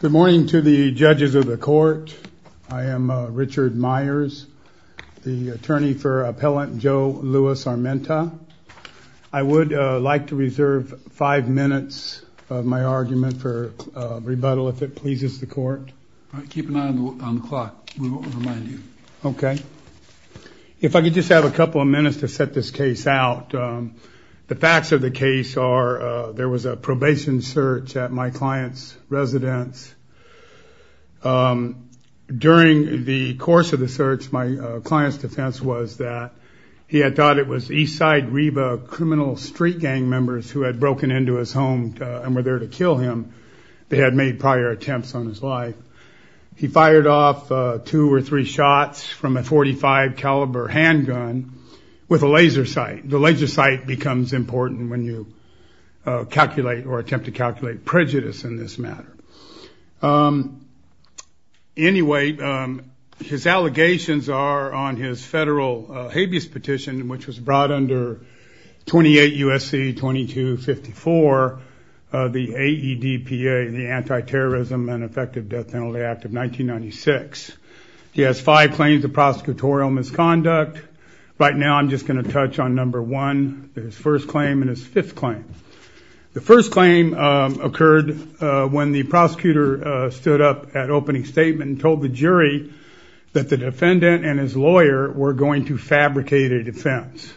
Good morning to the judges of the court. I am Richard Myers, the attorney for appellant Joe Louis Armenta. I would like to reserve five minutes of my argument for rebuttal if it pleases the court. Keep an eye on the clock. Okay. If I could just have a couple of minutes to set this case out. The facts of the case are there was a probation search at my client's residence. During the course of the search, my client's defense was that he had thought it was Eastside Reba criminal street gang members who had broken into his home and were there to kill him. They had made prior attempts on his life. He fired off two or three shots from a .45 caliber handgun with a laser sight. The laser sight becomes important when you calculate or attempt to calculate prejudice in this matter. Anyway, his allegations are on his federal habeas petition, which was brought under 28 U.S.C. 2254, the AEDPA, the Anti-terrorism and Effective Death Penalty Act of 1996. He has five claims of prosecutorial misconduct. Right now, I'm just going to touch on number one, his first claim, and his fifth claim. The first claim occurred when the prosecutor stood up at opening statement and told the jury that the defendant and his lawyer were going to fabricate a defense.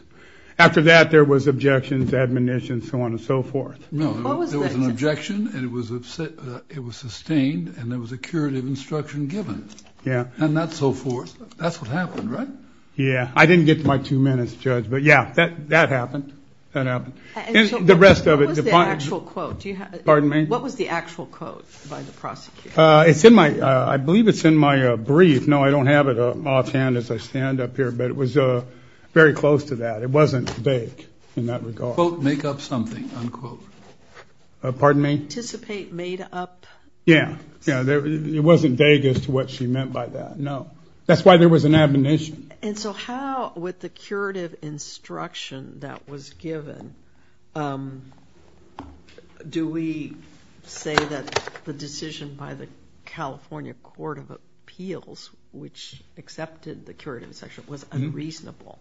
After that, there was objections, admonitions, so on and so forth. No, there was an objection, and it was sustained, and there was a curative instruction given. Yeah. And that's so forth. That's what happened, right? Yeah. I didn't get to my two minutes, Judge, but yeah, that happened. That happened. The rest of it. What was the actual quote? Pardon me? What was the actual quote by the prosecutor? It's in my, I believe it's in my brief. No, I don't have it offhand as I stand up here, but it was very close to that. It wasn't vague in that regard. Quote, make up something, unquote. Pardon me? Anticipate made up. Yeah. Yeah, it wasn't vague as to what she meant by that. No. That's why there was an admonition. And so how, with the curative instruction that was given, do we say that the decision by the California Court of Appeals, which accepted the curative section, was unreasonable?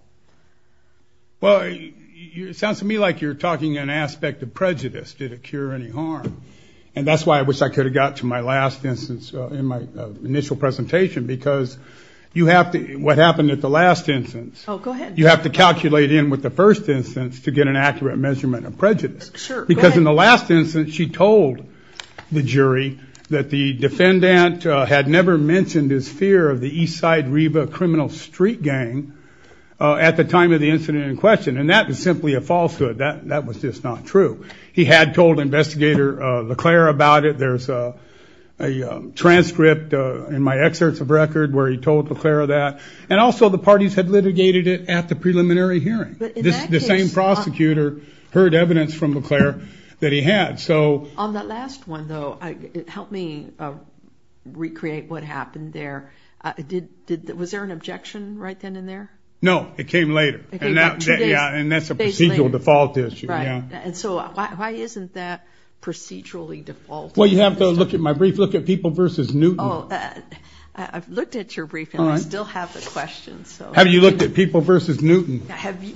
Well, it sounds to me like you're talking an aspect of prejudice. Did it cure any harm? And that's why I wish I could have got to my last instance in my initial presentation, because you have to, what happened at the last instance? Oh, go ahead. You have to calculate in with the first instance to get an accurate measurement of prejudice. Sure. Because in the last instance, she told the jury that the defendant had never mentioned his fear of the Eastside Riva criminal street gang at the time of the incident in question. And that was simply a falsehood. That was just not true. He had told investigator LeClaire about it. There's a transcript in my excerpts of record where he told LeClaire that. And also the parties had litigated it at the preliminary hearing. The same prosecutor heard evidence from LeClaire that he had. So on that last one though, help me recreate what happened there. Was there an objection right then and there? No, it came later. And that's a procedural default issue. And so why isn't that procedurally default? Well, you have to look at my brief. Look at People versus Newton. I've looked at your brief and I still have the questions. Have you looked at People versus Newton?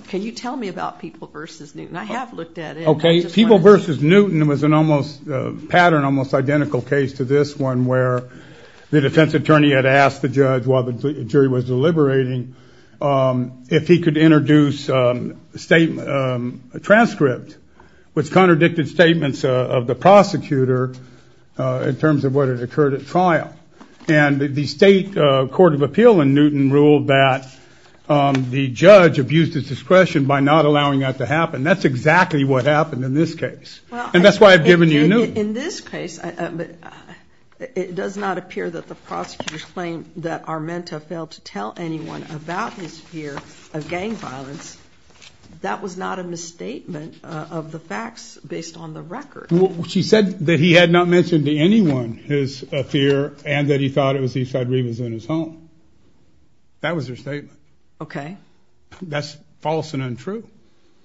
Can you tell me about People versus Newton? I have looked at it. Okay. People versus Newton was an almost pattern, almost identical case to this one where the defense attorney had asked the judge while the jury was deliberating if he could introduce a transcript which contradicted statements of the prosecutor in terms of what had occurred at trial. And the state court of appeal in Newton ruled that the judge abused his discretion by not allowing that to happen. That's exactly what happened in this case. And that's why I've given you Newton. In this case, it does not appear that the prosecutors claim that Armenta failed to tell anyone about his fear of gang violence. That was not a misstatement of the facts based on the fear and that he thought it was he said he was in his home. That was their statement. Okay. That's false and untrue.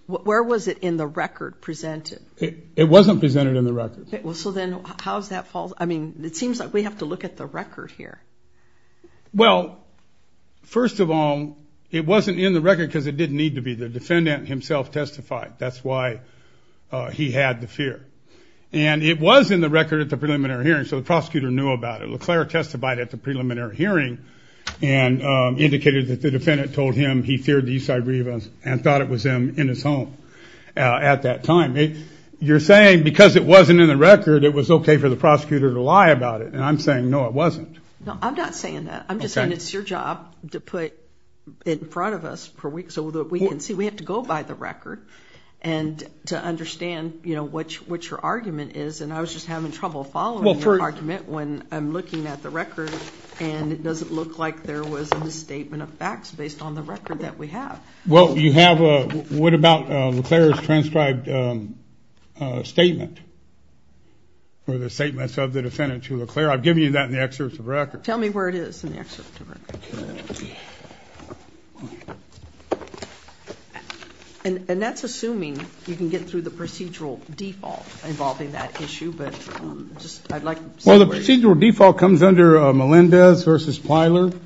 Where was it in the record presented? It wasn't presented in the record. Well, so then how is that false? I mean, it seems like we have to look at the record here. Well, first of all, it wasn't in the record because it didn't need to be. The defendant himself testified. That's why he had the fear. And it was in the record at the preliminary hearing so the Leclerc testified at the preliminary hearing and indicated that the defendant told him he feared the Eastside Rebels and thought it was him in his home at that time. You're saying because it wasn't in the record it was okay for the prosecutor to lie about it and I'm saying no it wasn't. No, I'm not saying that. I'm just saying it's your job to put it in front of us so that we can see. We have to go by the record and to understand, you know, what your argument is and I was just having trouble following your argument when I'm looking at the record and it doesn't look like there was a misstatement of facts based on the record that we have. Well, you have a, what about Leclerc's transcribed statement or the statements of the defendant to Leclerc? I've given you that in the excerpt of the record. Tell me where it is in the excerpt. And that's assuming you can get through the procedural default involving that issue. Well, the procedural default comes under Melendez versus Plyler.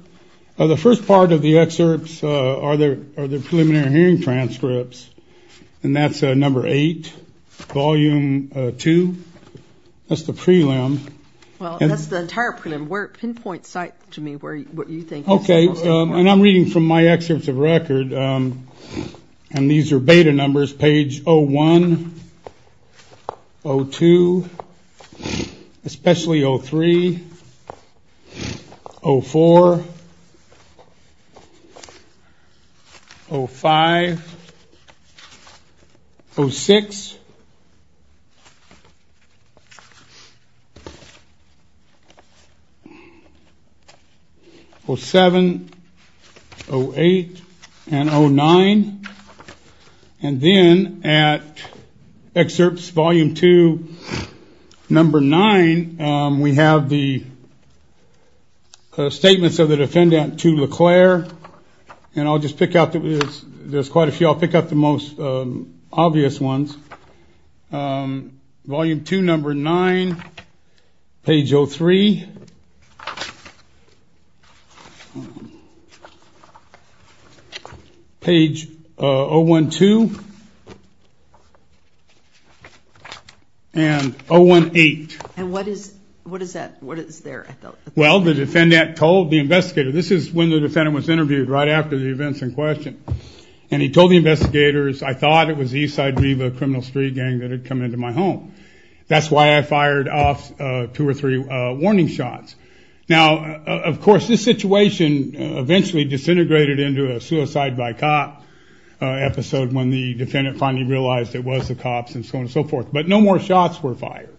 The first part of the excerpts are the preliminary hearing transcripts and that's number 8, volume 2. That's the prelim. Well, that's the entire prelim. Pinpoint to me what you think. Okay, and I'm reading from my excerpts of page 0-1, 0-2, especially 0-3, 0-4, 0-5, 0-6, 0-7, 0-8, and 0-9. And then at excerpts volume 2, number 9, we have the statements of the defendant to Leclerc. And I'll just pick out the, there's quite a few, I'll pick out the most obvious ones. Volume 2, number 9, page 0-3, page 0-1-2, and 0-1-8. And what is, what is that, what is there? Well, the defendant told the investigator, this is when the defendant was interviewed, right after the events in Leclerc, investigators, I thought it was the Eastside Riva criminal street gang that had come into my home. That's why I fired off two or three warning shots. Now, of course, this situation eventually disintegrated into a suicide by cop episode when the defendant finally realized it was the cops and so on and so forth. But no more shots were fired.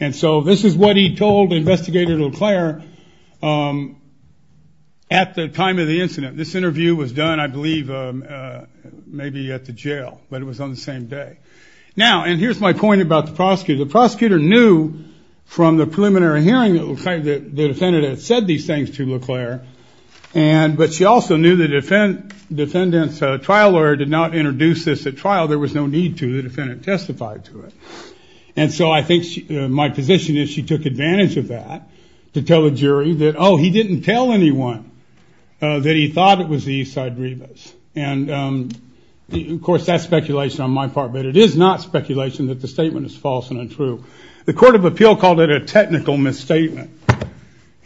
And so this is what he told the investigator Leclerc at the time of the incident. This interview was done, I believe, maybe at the jail, but it was on the same day. Now, and here's my point about the prosecutor. The prosecutor knew from the preliminary hearing that the defendant had said these things to Leclerc, and, but she also knew the defendant's trial lawyer did not introduce this at trial. There was no need to. The defendant testified to it. And so I think my position is she took advantage of that to tell the jury that, oh, he didn't tell anyone that he thought it was the Eastside Rivas. And, of course, that's speculation on my part, but it is not speculation that the statement is false and untrue. The Court of Appeal called it a technical misstatement.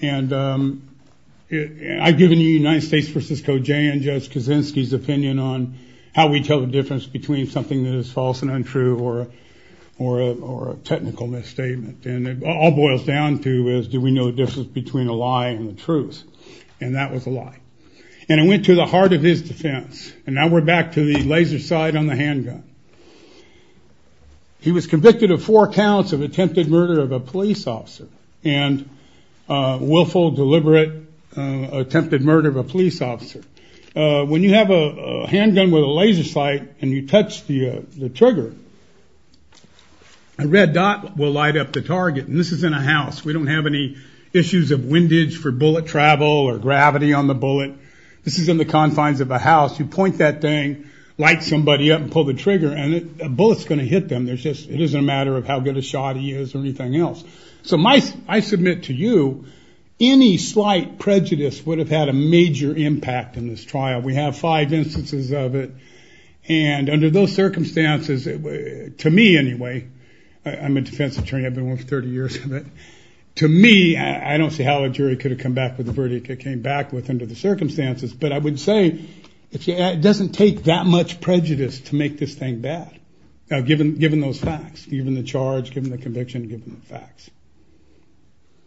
And I've given the United States vs. Kojai and Judge Kaczynski's opinion on how we tell the difference between something that is false and untrue or a technical misstatement. And it all boils down to is do we know the difference between a lie and the truth? And that was a lie. And it went to the heart of his defense. And now we're back to the laser sight on the handgun. He was convicted of four counts of attempted murder of a police officer and willful, deliberate, attempted murder of a police officer. When you have a handgun with a laser sight and you touch the trigger, a red dot will light up the target. And this is in a house. We don't have any issues of windage for bullet travel or gravity on the bullet. This is in the confines of a house. You point that thing, light somebody up, and pull the trigger, and a bullet's going to hit them. There's just, it isn't a matter of how good a shot he is or anything else. So my, I submit to you, any slight prejudice would have had a major impact in this trial. We have five instances of it. And under those circumstances, to me anyway, I'm a defense attorney, I've been one for 30 years of it. To me, I don't see how a jury could have come back with the verdict it came back with under the circumstances. But I would say, it doesn't take that much prejudice to make this thing bad, given those facts, given the charge, given the conviction, given the facts.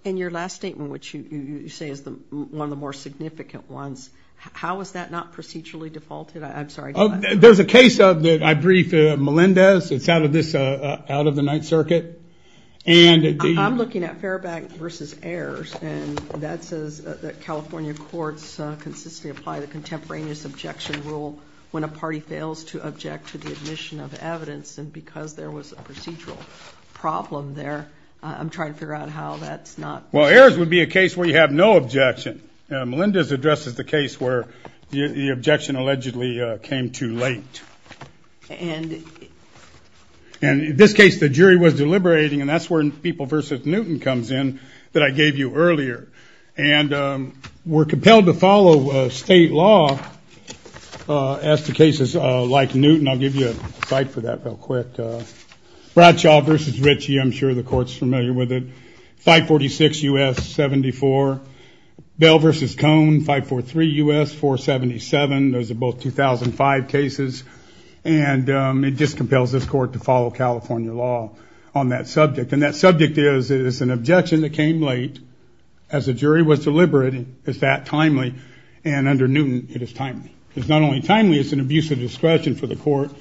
In your last statement, which you say is one of the more significant ones, how is that not procedurally defaulted? I'm sorry. There's a case of, I brief Melendez, it's out of the Ninth Circuit. I'm looking at Fairbank versus Ayers, and that says that California courts consistently apply the contemporaneous objection rule when a party fails to object to the admission of evidence. And because there was a procedural problem there, I'm trying to figure out how that's not... Well, Ayers would be a case where you have no objection. Melendez addresses the case where the objection allegedly came too late. And in this case, the jury was deliberating, and that's where People versus Newton comes in, that I gave you earlier. And we're compelled to follow state law as to cases like Newton. I'll give you a cite for that real quick. Bradshaw versus Ritchie, I'm sure the court's familiar with it. 546 U.S. 74. Bell versus Cone, 543 U.S. 477. Those are both 2005 cases. And it just compels this court to follow California law on that subject. And that subject is, it is an objection that came late. As the jury was deliberating, is that timely? And under Newton, it is timely. It's not only timely, it's an abuse of discretion for the court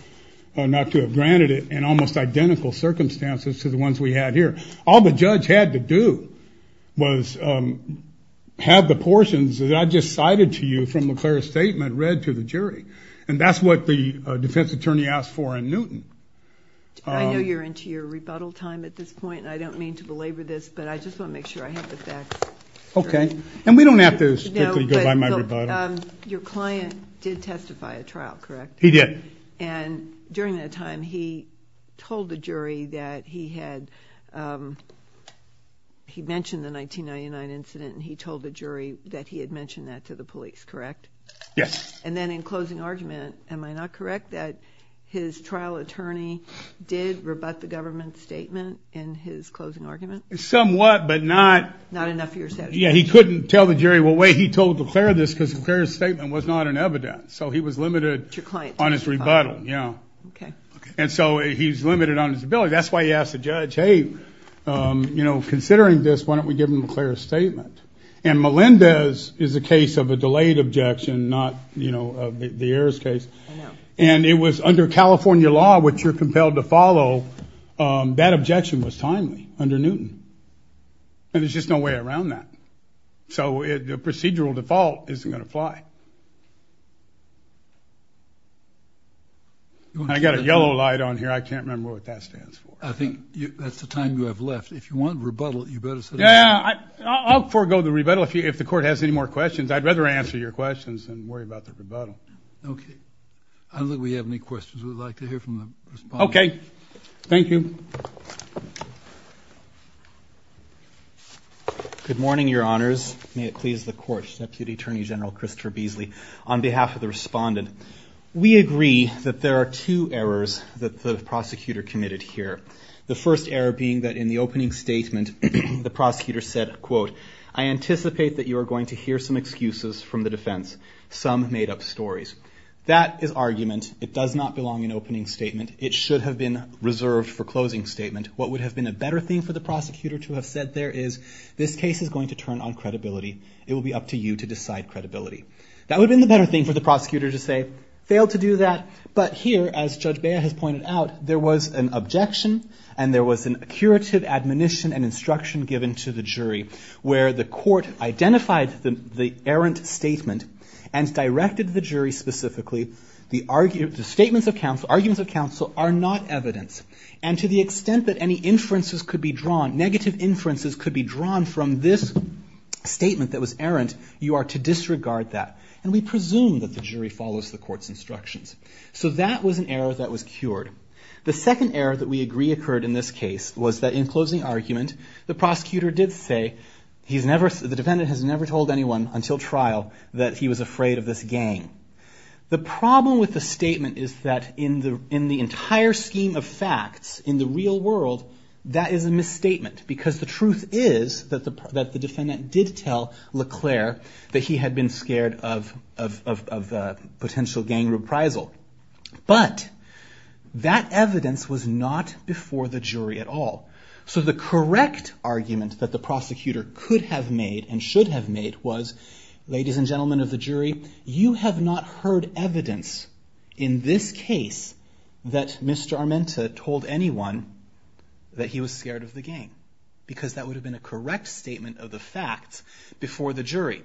not to have granted it in almost identical circumstances to the ones we had here. All the judge had to do was have the portions that I just cited to you from McLair's statement read to the jury. And that's what the defense attorney asked for in Newton. I know you're into your rebuttal time at this point, and I don't mean to belabor this, but I just want to make sure I have the facts. Okay. And we don't have to strictly go by my rebuttal. Your client did testify at trial, correct? He did. And during that time, he told the jury that he had, he mentioned the 1999 incident, and he told the jury that he had mentioned that to the police, correct? Yes. And then in closing argument, am I not correct that his trial attorney did rebut the government statement in his closing argument? Somewhat, but not- Not enough of your satisfaction. Yeah, he couldn't tell the jury what way he told McLair this because McLair's statement was not an evidence. So he was limited on his rebuttal. Yeah. Okay. And so he's limited on his ability. That's why he asked the judge, hey, you know, considering this, why don't we give him a clear statement? And Melendez is a case of a delayed objection, not, you know, the Ayers case. And it was under California law, which you're compelled to follow, that objection was timely under Newton. And there's just no way around that. So the procedural default isn't going to apply. I got a yellow light on here. I can't remember what that stands for. I think that's the time you have left. If you want rebuttal, you better say- Yeah, I'll forgo the rebuttal if the court has any more questions. I'd rather answer your questions than worry about the rebuttal. Okay. I don't think we have any questions we'd like to hear from the respondents. Okay. Thank you. Good morning, your honors. May it please the court, Deputy Attorney General Christopher Beasley. On behalf of the respondent, we agree that there are two errors that the prosecutor committed here. The first error being that in the opening statement, the prosecutor said, quote, I anticipate that you are going to hear some excuses from the defense. Some made up stories. That is argument. It does not belong in opening statement. It should have been reserved for closing statement. What would have been a better thing for the prosecutor to have said there is, this case is going to turn on credibility. It will be up to you to decide credibility. That would have been the better thing for the prosecutor to say. Failed to do that. But here, as Judge Bea has pointed out, there was an objection and there was an curative admonition and instruction given to the jury where the court identified the errant statement and directed the jury specifically. The arguments of counsel are not evidence. And to the extent that any inferences could be drawn, negative inferences could from this statement that was errant, you are to disregard that. And we presume that the jury follows the court's instructions. So that was an error that was cured. The second error that we agree occurred in this case was that in closing argument, the prosecutor did say, he's never, the defendant has never told anyone until trial that he was afraid of this gang. The problem with the statement is that in the, in the entire scheme of facts, in the real world, that is a misstatement. Because the truth is that the, that the defendant did tell LeClaire that he had been scared of, of, of, of potential gang reprisal. But, that evidence was not before the jury at all. So the correct argument that the prosecutor could have made and should have made was, ladies and gentlemen of the jury, you have not heard evidence in this case that Mr. Armenta told anyone that he was scared of the gang. Because that would have been a correct statement of the fact before the jury.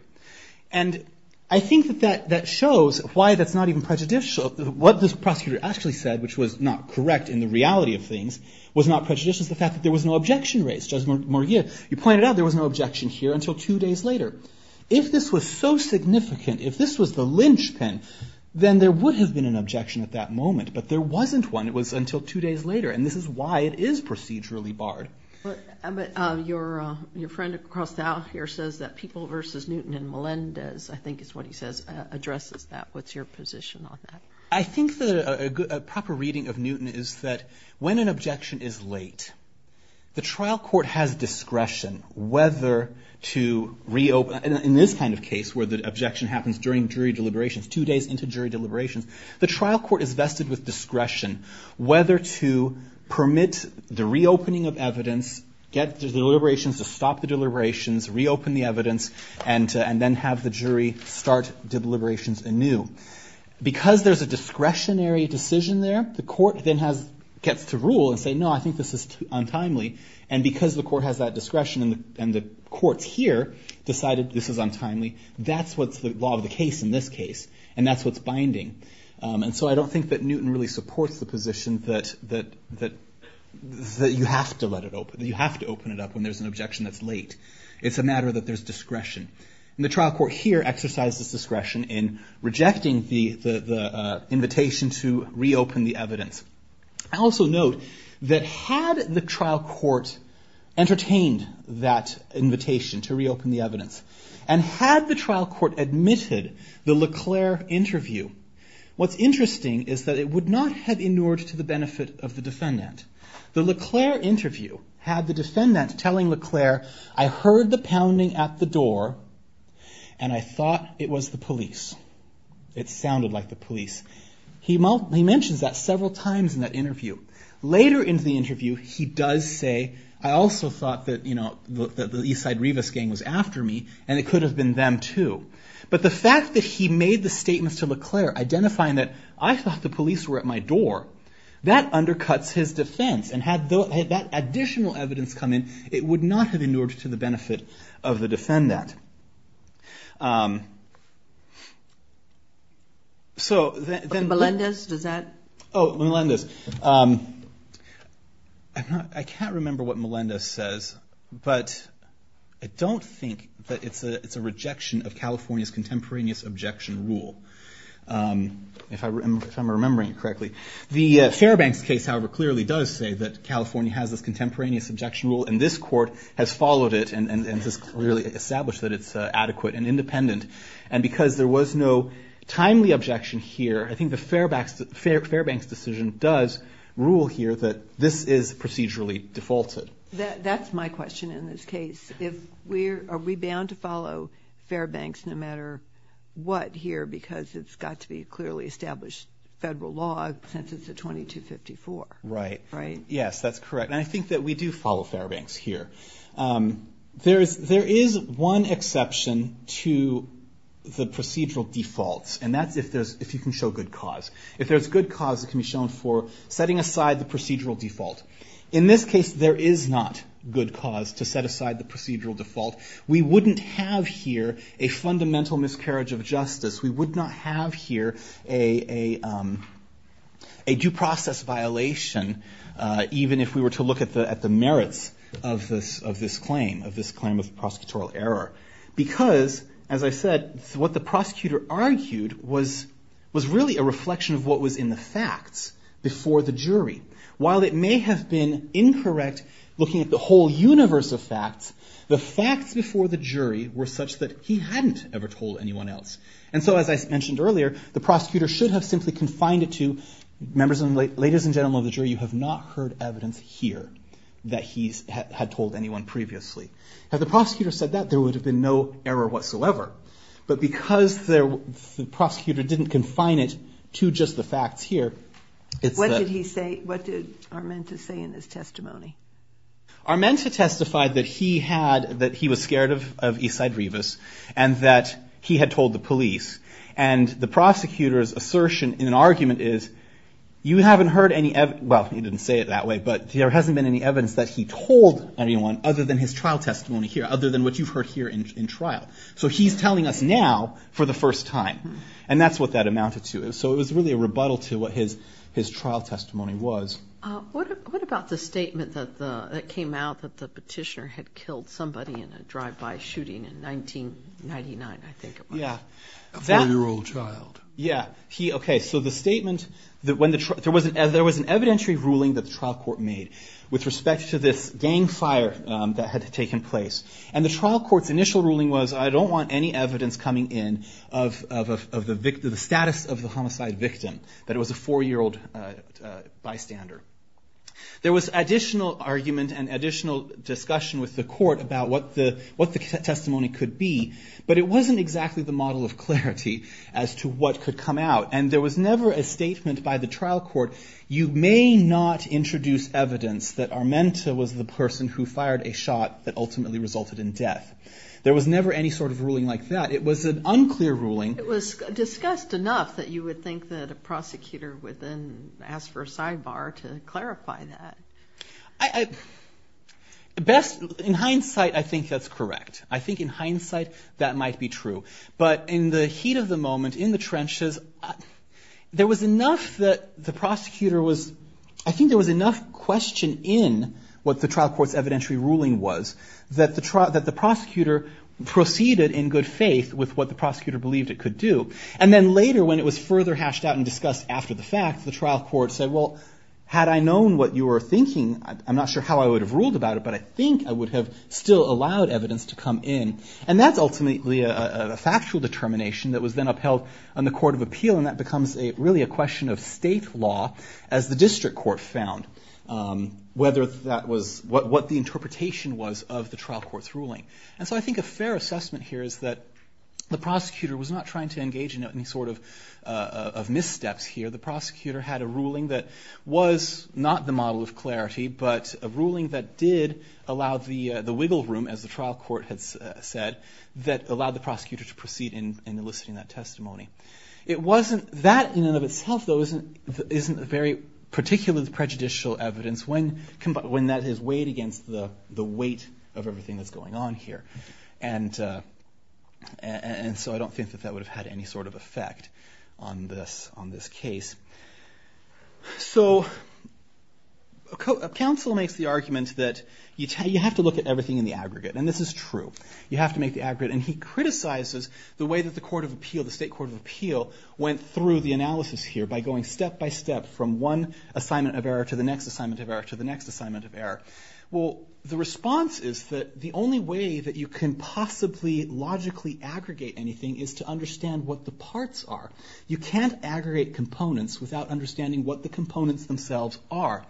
And I think that that, that shows why that's not even prejudicial. What this prosecutor actually said, which was not correct in the reality of things, was not prejudicial to the fact that there was no objection raised. Judge Morgia, you pointed out there was no objection here until two days later. If this was so significant, if this was the linchpin, then there would have been an objection at that moment. But there wasn't one. It was until two days later. And this is why it is procedurally barred. But, but your, your friend Carl Thou here says that people versus Newton and Melendez, I think is what he says, addresses that. What's your position on that? I think that a good, a proper reading of Newton is that when an objection is late, the trial court has discretion whether to reopen, in this kind of case, where the objection happens during jury deliberations, two days into jury deliberations. The trial court is vested with discretion whether to permit the reopening of evidence, get the deliberations to stop the deliberations, reopen the evidence, and to, and then have the jury start deliberations anew. Because there's a discretionary decision there, the court then has, gets to rule and say, no, I think this is untimely. And because the court has that discretion and the, and the courts here decided this is untimely. That's what's the law of the case in this case. And that's what's binding. And so I don't think that Newton really supports the position that, that, that, that you have to let it open, that you have to open it up when there's an objection that's late. It's a matter that there's discretion. And the trial court here exercises discretion in rejecting the, the, the invitation to reopen the evidence. I also note that had the trial court entertained that invitation to reopen the evidence, and had the trial court admitted the LeClaire interview, what's interesting is that it would not have inured to the benefit of the defendant. The LeClaire interview had the defendant telling LeClaire, I heard the pounding at the door, and I thought it was the police. It sounded like the police. He mentions that several times in that interview. Later in the interview, he does say, I also thought that, you know, that the Eastside Rivas gang was after me, and it could have been them too. But the fact that he made the statement to LeClaire, identifying that I thought the police were at my door, that undercuts his defense. And had that additional evidence come in, it would not have inured to the benefit of the defendant. So, then- Okay, Melendez, does that- Oh, Melendez, I'm not, I can't remember what Melendez says. But I don't think that it's a, it's a rejection of California's contemporaneous objection rule. If I remember, if I'm remembering it correctly. The Fairbanks case, however, clearly does say that California has this contemporaneous objection rule, and this court has followed it, and, and, and has clearly established that it's adequate and independent. And because there was no timely objection here, I think the Fairbanks decision does rule here that this is procedurally defaulted. That's my question in this case. If we're, are we bound to follow Fairbanks no matter what here? Because it's got to be clearly established federal law, since it's a 2254. Right. Right. Yes, that's correct. And I think that we do follow Fairbanks here. There is, there is one exception to the procedural defaults. And that's if there's, if you can show good cause. If there's good cause, it can be shown for setting aside the procedural default. In this case, there is not good cause to set aside the procedural default. We wouldn't have here a fundamental miscarriage of justice. We would not have here a, a, a due process violation. Even if we were to look at the, at the merits of this, of this claim, of this claim of prosecutorial error. Because, as I said, what the prosecutor argued was, was really a reflection of what was in the facts before the jury. While it may have been incorrect looking at the whole universe of facts, the facts before the jury were such that he hadn't ever told anyone else. And so as I mentioned earlier, the prosecutor should have simply confined it to, members of the, ladies and gentlemen of the jury, you have not heard evidence here that he's had, had told anyone previously. Had the prosecutor said that, there would have been no error whatsoever. But because there, the prosecutor didn't confine it to just the facts here. It's a- What did he say, what did Armenta say in his testimony? Armenta testified that he had, that he was scared of, of Isidrevis. And that he had told the police. And the prosecutor's assertion in an argument is, you haven't heard any ev, well, he didn't say it that way, but there hasn't been any evidence that he told anyone other than his trial testimony here, other than what you've heard here in, in trial. So he's telling us now for the first time. And that's what that amounted to. So it was really a rebuttal to what his, his trial testimony was. What, what about the statement that the, that came out that the petitioner had killed somebody in a drive-by shooting in 1999, I think it was. Yeah. A four-year-old child. Yeah. He, okay, so the statement that when the, there was an evidentiary ruling that the trial court made with respect to this gang fire that had taken place. And the trial court's initial ruling was, I don't want any evidence coming in of, of, of the, of the status of the homicide victim. That it was a four-year-old bystander. There was additional argument and additional discussion with the court about what the, what the testimony could be. But it wasn't exactly the model of clarity as to what could come out. And there was never a statement by the trial court, you may not introduce evidence that Armenta was the person who fired a shot that ultimately resulted in death. There was never any sort of ruling like that. It was an unclear ruling. It was discussed enough that you would think that a prosecutor would then ask for a sidebar to clarify that. I, I, best, in hindsight, I think that's correct. I think in hindsight, that might be true. But in the heat of the moment, in the trenches, there was enough that the prosecutor was, I think there was enough question in what the trial court's evidentiary ruling was, that the trial, that the prosecutor proceeded in good faith with what the prosecutor believed it could do. And then later, when it was further hashed out and discussed after the fact, the trial court said, well, had I known what you were thinking, I'm not sure how I would have ruled about it, but I think I would have still allowed evidence to come in. And that's ultimately a, a, a factual determination that was then upheld on the court of appeal, and that becomes a, really a question of state law, as the district court found whether that was what, what the interpretation was of the trial court's ruling. And so I think a fair assessment here is that the prosecutor was not trying to engage in any sort of of missteps here. The prosecutor had a ruling that was not the model of clarity, but a ruling that did allow the, the wiggle room, as the trial court had said, that allowed the prosecutor to proceed in, in eliciting that testimony. It wasn't, that in and of itself, though, isn't, isn't very particularly prejudicial evidence when, when that is weighed against the, the weight of everything that's going on here. And and so I don't think that that would have had any sort of effect on this, on this case. So, a cou, a counsel makes the argument that you tell, you have to look at everything in the aggregate, and this is true. You have to make the aggregate, and he criticizes the way that the court of appeal, the state court of appeal, went through the analysis here, by going step by step from one assignment of error to the next assignment of error, to the next assignment of error. Well, the response is that the only way that you can possibly logically aggregate anything is to understand what the parts are. You can't aggregate components without understanding what the components themselves are.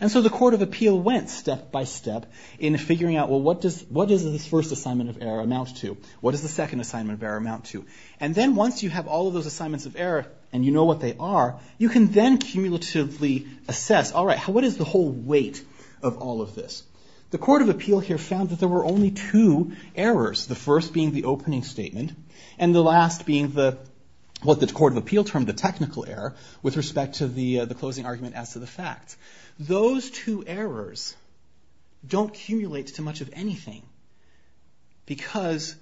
And so the court of appeal went step by step in figuring out, well, what does, what does this first assignment of error amount to? What does the second assignment of error amount to? And then once you have all of those assignments of error, and you know what they are, you can then cumulatively assess, all right, what is the whole weight of all of this? The court of appeal here found that there were only two errors. The first being the opening statement, and the last being the, what the court of appeal termed the technical error, with respect to the closing argument as to the fact. Those two errors don't cumulate to much of anything, because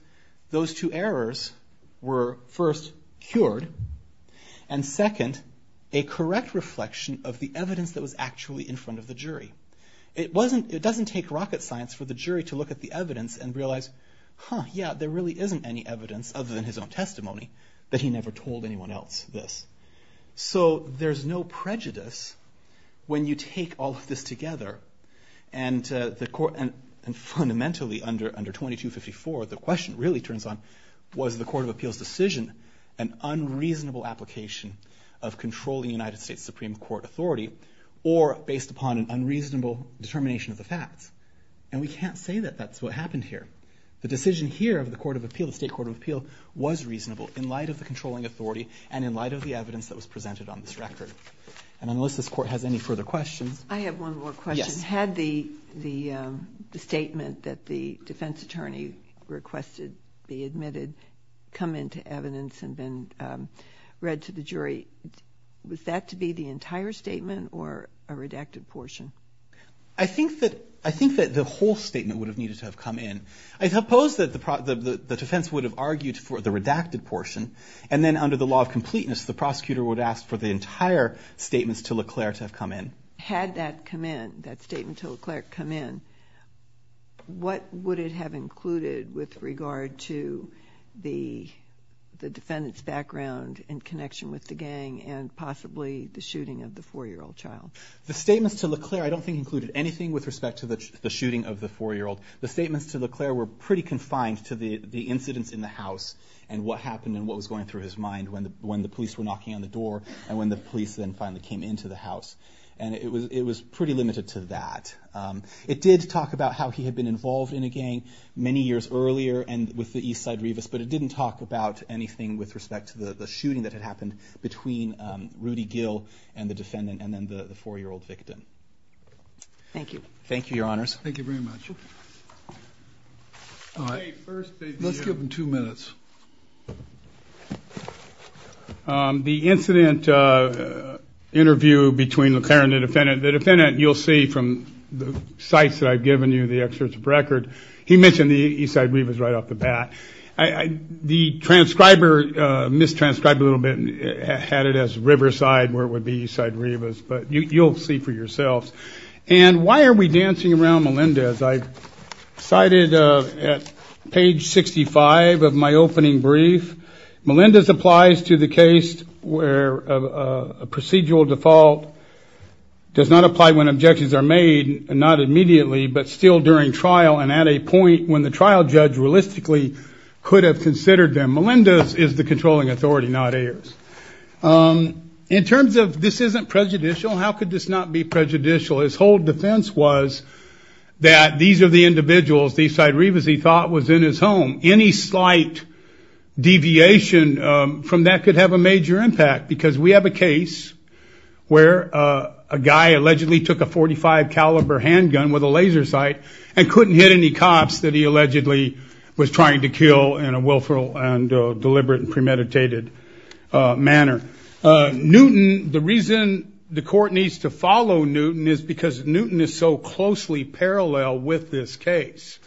those two errors were first, cured, and second, a correct reflection of the evidence that was actually in front of the jury. It doesn't take rocket science for the jury to look at the evidence and testimony that he never told anyone else this. So there's no prejudice when you take all of this together. And the court, and, and fundamentally under, under 2254, the question really turns on, was the court of appeals decision an unreasonable application of controlling United States Supreme Court authority, or based upon an unreasonable determination of the facts? And we can't say that that's what happened here. The decision here of the court of appeal, the state court of appeal, was reasonable in light of the controlling authority, and in light of the evidence that was presented on this record. And unless this court has any further questions. I have one more question. Yes. Had the, the statement that the defense attorney requested be admitted come into evidence and then read to the jury. Was that to be the entire statement or a redacted portion? I think that, I think that the whole statement would have needed to have come in. I suppose that the, the, the defense would have argued for the redacted portion. And then under the law of completeness, the prosecutor would ask for the entire statements to LeClerc to have come in. Had that come in, that statement to LeClerc come in, what would it have included with regard to the, the defendant's background and connection with the gang and possibly the shooting of the four year old child? The statements to LeClerc, I don't think included anything with respect to the, the shooting of the four year old. The statements to LeClerc were pretty confined to the, the incidents in the house. And what happened and what was going through his mind when the, when the police were knocking on the door and when the police then finally came into the house. And it was, it was pretty limited to that. It did talk about how he had been involved in a gang many years earlier and with the Eastside Revis, but it didn't talk about anything with respect to the, the shooting that had happened between Rudy Gill and the defendant and then the, the four year old victim. Thank you. Thank you, your honors. Thank you very much. All right. First, let's give him two minutes. The incident interview between LeClerc and the defendant. The defendant, you'll see from the sites that I've given you, the excerpts of record. He mentioned the Eastside Revis right off the bat. The transcriber mistranscribed a little bit and had it as Riverside where it would be Eastside Revis, but you, you'll see for Melendez, I cited at page 65 of my opening brief. Melendez applies to the case where a procedural default does not apply when objections are made, not immediately, but still during trial. And at a point when the trial judge realistically could have considered them. Melendez is the controlling authority, not Ayers. In terms of this isn't prejudicial, how could this not be prejudicial? His whole defense was that these are the individuals, the Eastside Revis he thought was in his home. Any slight deviation from that could have a major impact, because we have a case where a guy allegedly took a 45 caliber handgun with a laser sight and couldn't hit any cops that he allegedly was trying to kill in a willful and deliberate and premeditated manner. Newton, the reason the court needs to follow Newton is because Newton is so closely parallel with this case.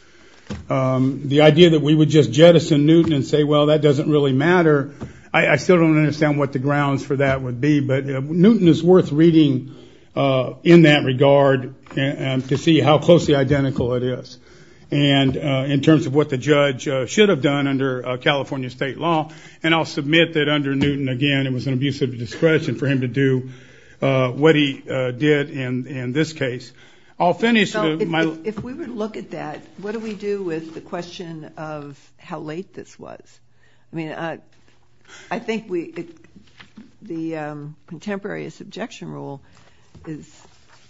The idea that we would just jettison Newton and say, well, that doesn't really matter. I still don't understand what the grounds for that would be, but Newton is worth reading in that regard to see how closely identical it is. And in terms of what the judge should have done under California state law, and I'll submit that under Newton, again, it was an abuse of discretion for him to do what he did in this case. I'll finish my- If we would look at that, what do we do with the question of how late this was? I mean, I think the contemporary subjection rule is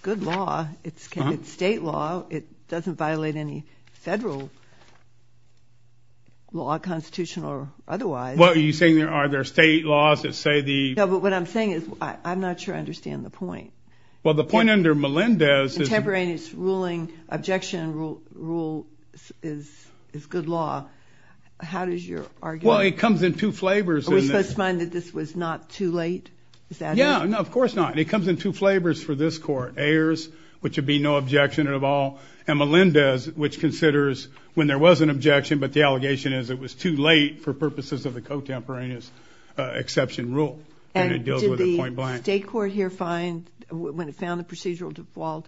good law. It's state law. It doesn't violate any federal law, constitutional or otherwise. What are you saying? Are there state laws that say the- No, but what I'm saying is I'm not sure I understand the point. Well, the point under Melendez is- Contemporaneous ruling, objection rule is good law. How does your argument- Well, it comes in two flavors. Are we supposed to find that this was not too late? Is that- Yeah, no, of course not. It comes in two flavors for this court. Ayers, which would be no objection at all, and Melendez, which considers when there was an objection, but the allegation is it was too late for purposes of the contemporaneous exception rule, and it deals with a point blank. Did the state court here find, when it found the procedural default,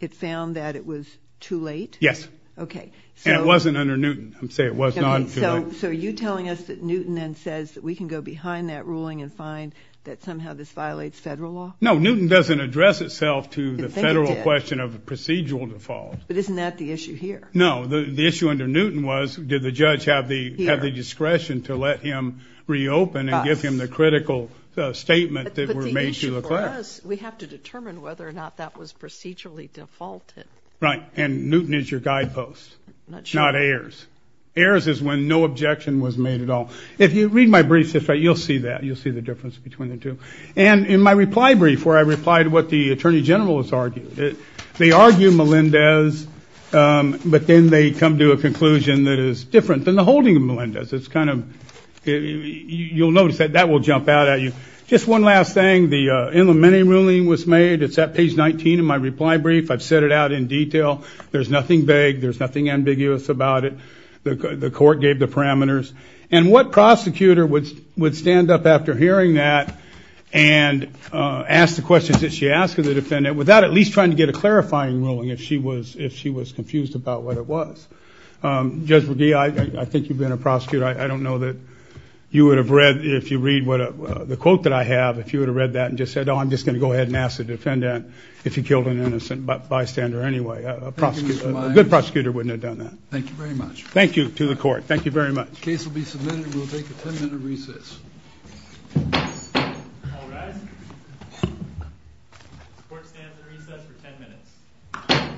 it found that it was too late? Yes. Okay, so- And it wasn't under Newton. I'm saying it was not too late. So are you telling us that Newton then says that we can go behind that ruling and find that somehow this violates federal law? No, Newton doesn't address itself to the federal question of procedural default. But isn't that the issue here? No, the issue under Newton was, did the judge have the discretion to let him reopen and give him the critical statement that were made to the class? But the issue for us, we have to determine whether or not that was procedurally defaulted. Right, and Newton is your guidepost, not Ayers. Ayers is when no objection was made at all. If you read my briefs, you'll see that. You'll see the difference between the two. And in my reply brief, where I replied to what the Attorney General has argued, they argue Melendez, but then they come to a conclusion that is different than the holding of Melendez. It's kind of, you'll notice that that will jump out at you. Just one last thing, the Ilomeni ruling was made. It's at page 19 in my reply brief. I've set it out in detail. There's nothing vague. There's nothing ambiguous about it. The court gave the parameters. And what prosecutor would stand up after hearing that and ask the questions that she asked of the defendant without at least trying to get a clarifying ruling if she was confused about what it was? Judge McGee, I think you've been a prosecutor. I don't know that you would have read, if you read the quote that I have, if you would have read that and just said, oh, I'm just going to go ahead and ask the defendant if he killed an innocent bystander anyway. A prosecutor, a good prosecutor wouldn't have done that. Thank you very much. Thank you to the court. Thank you very much. Case will be submitted and we'll take a 10-minute recess. All rise. The court stands in recess for 10 minutes.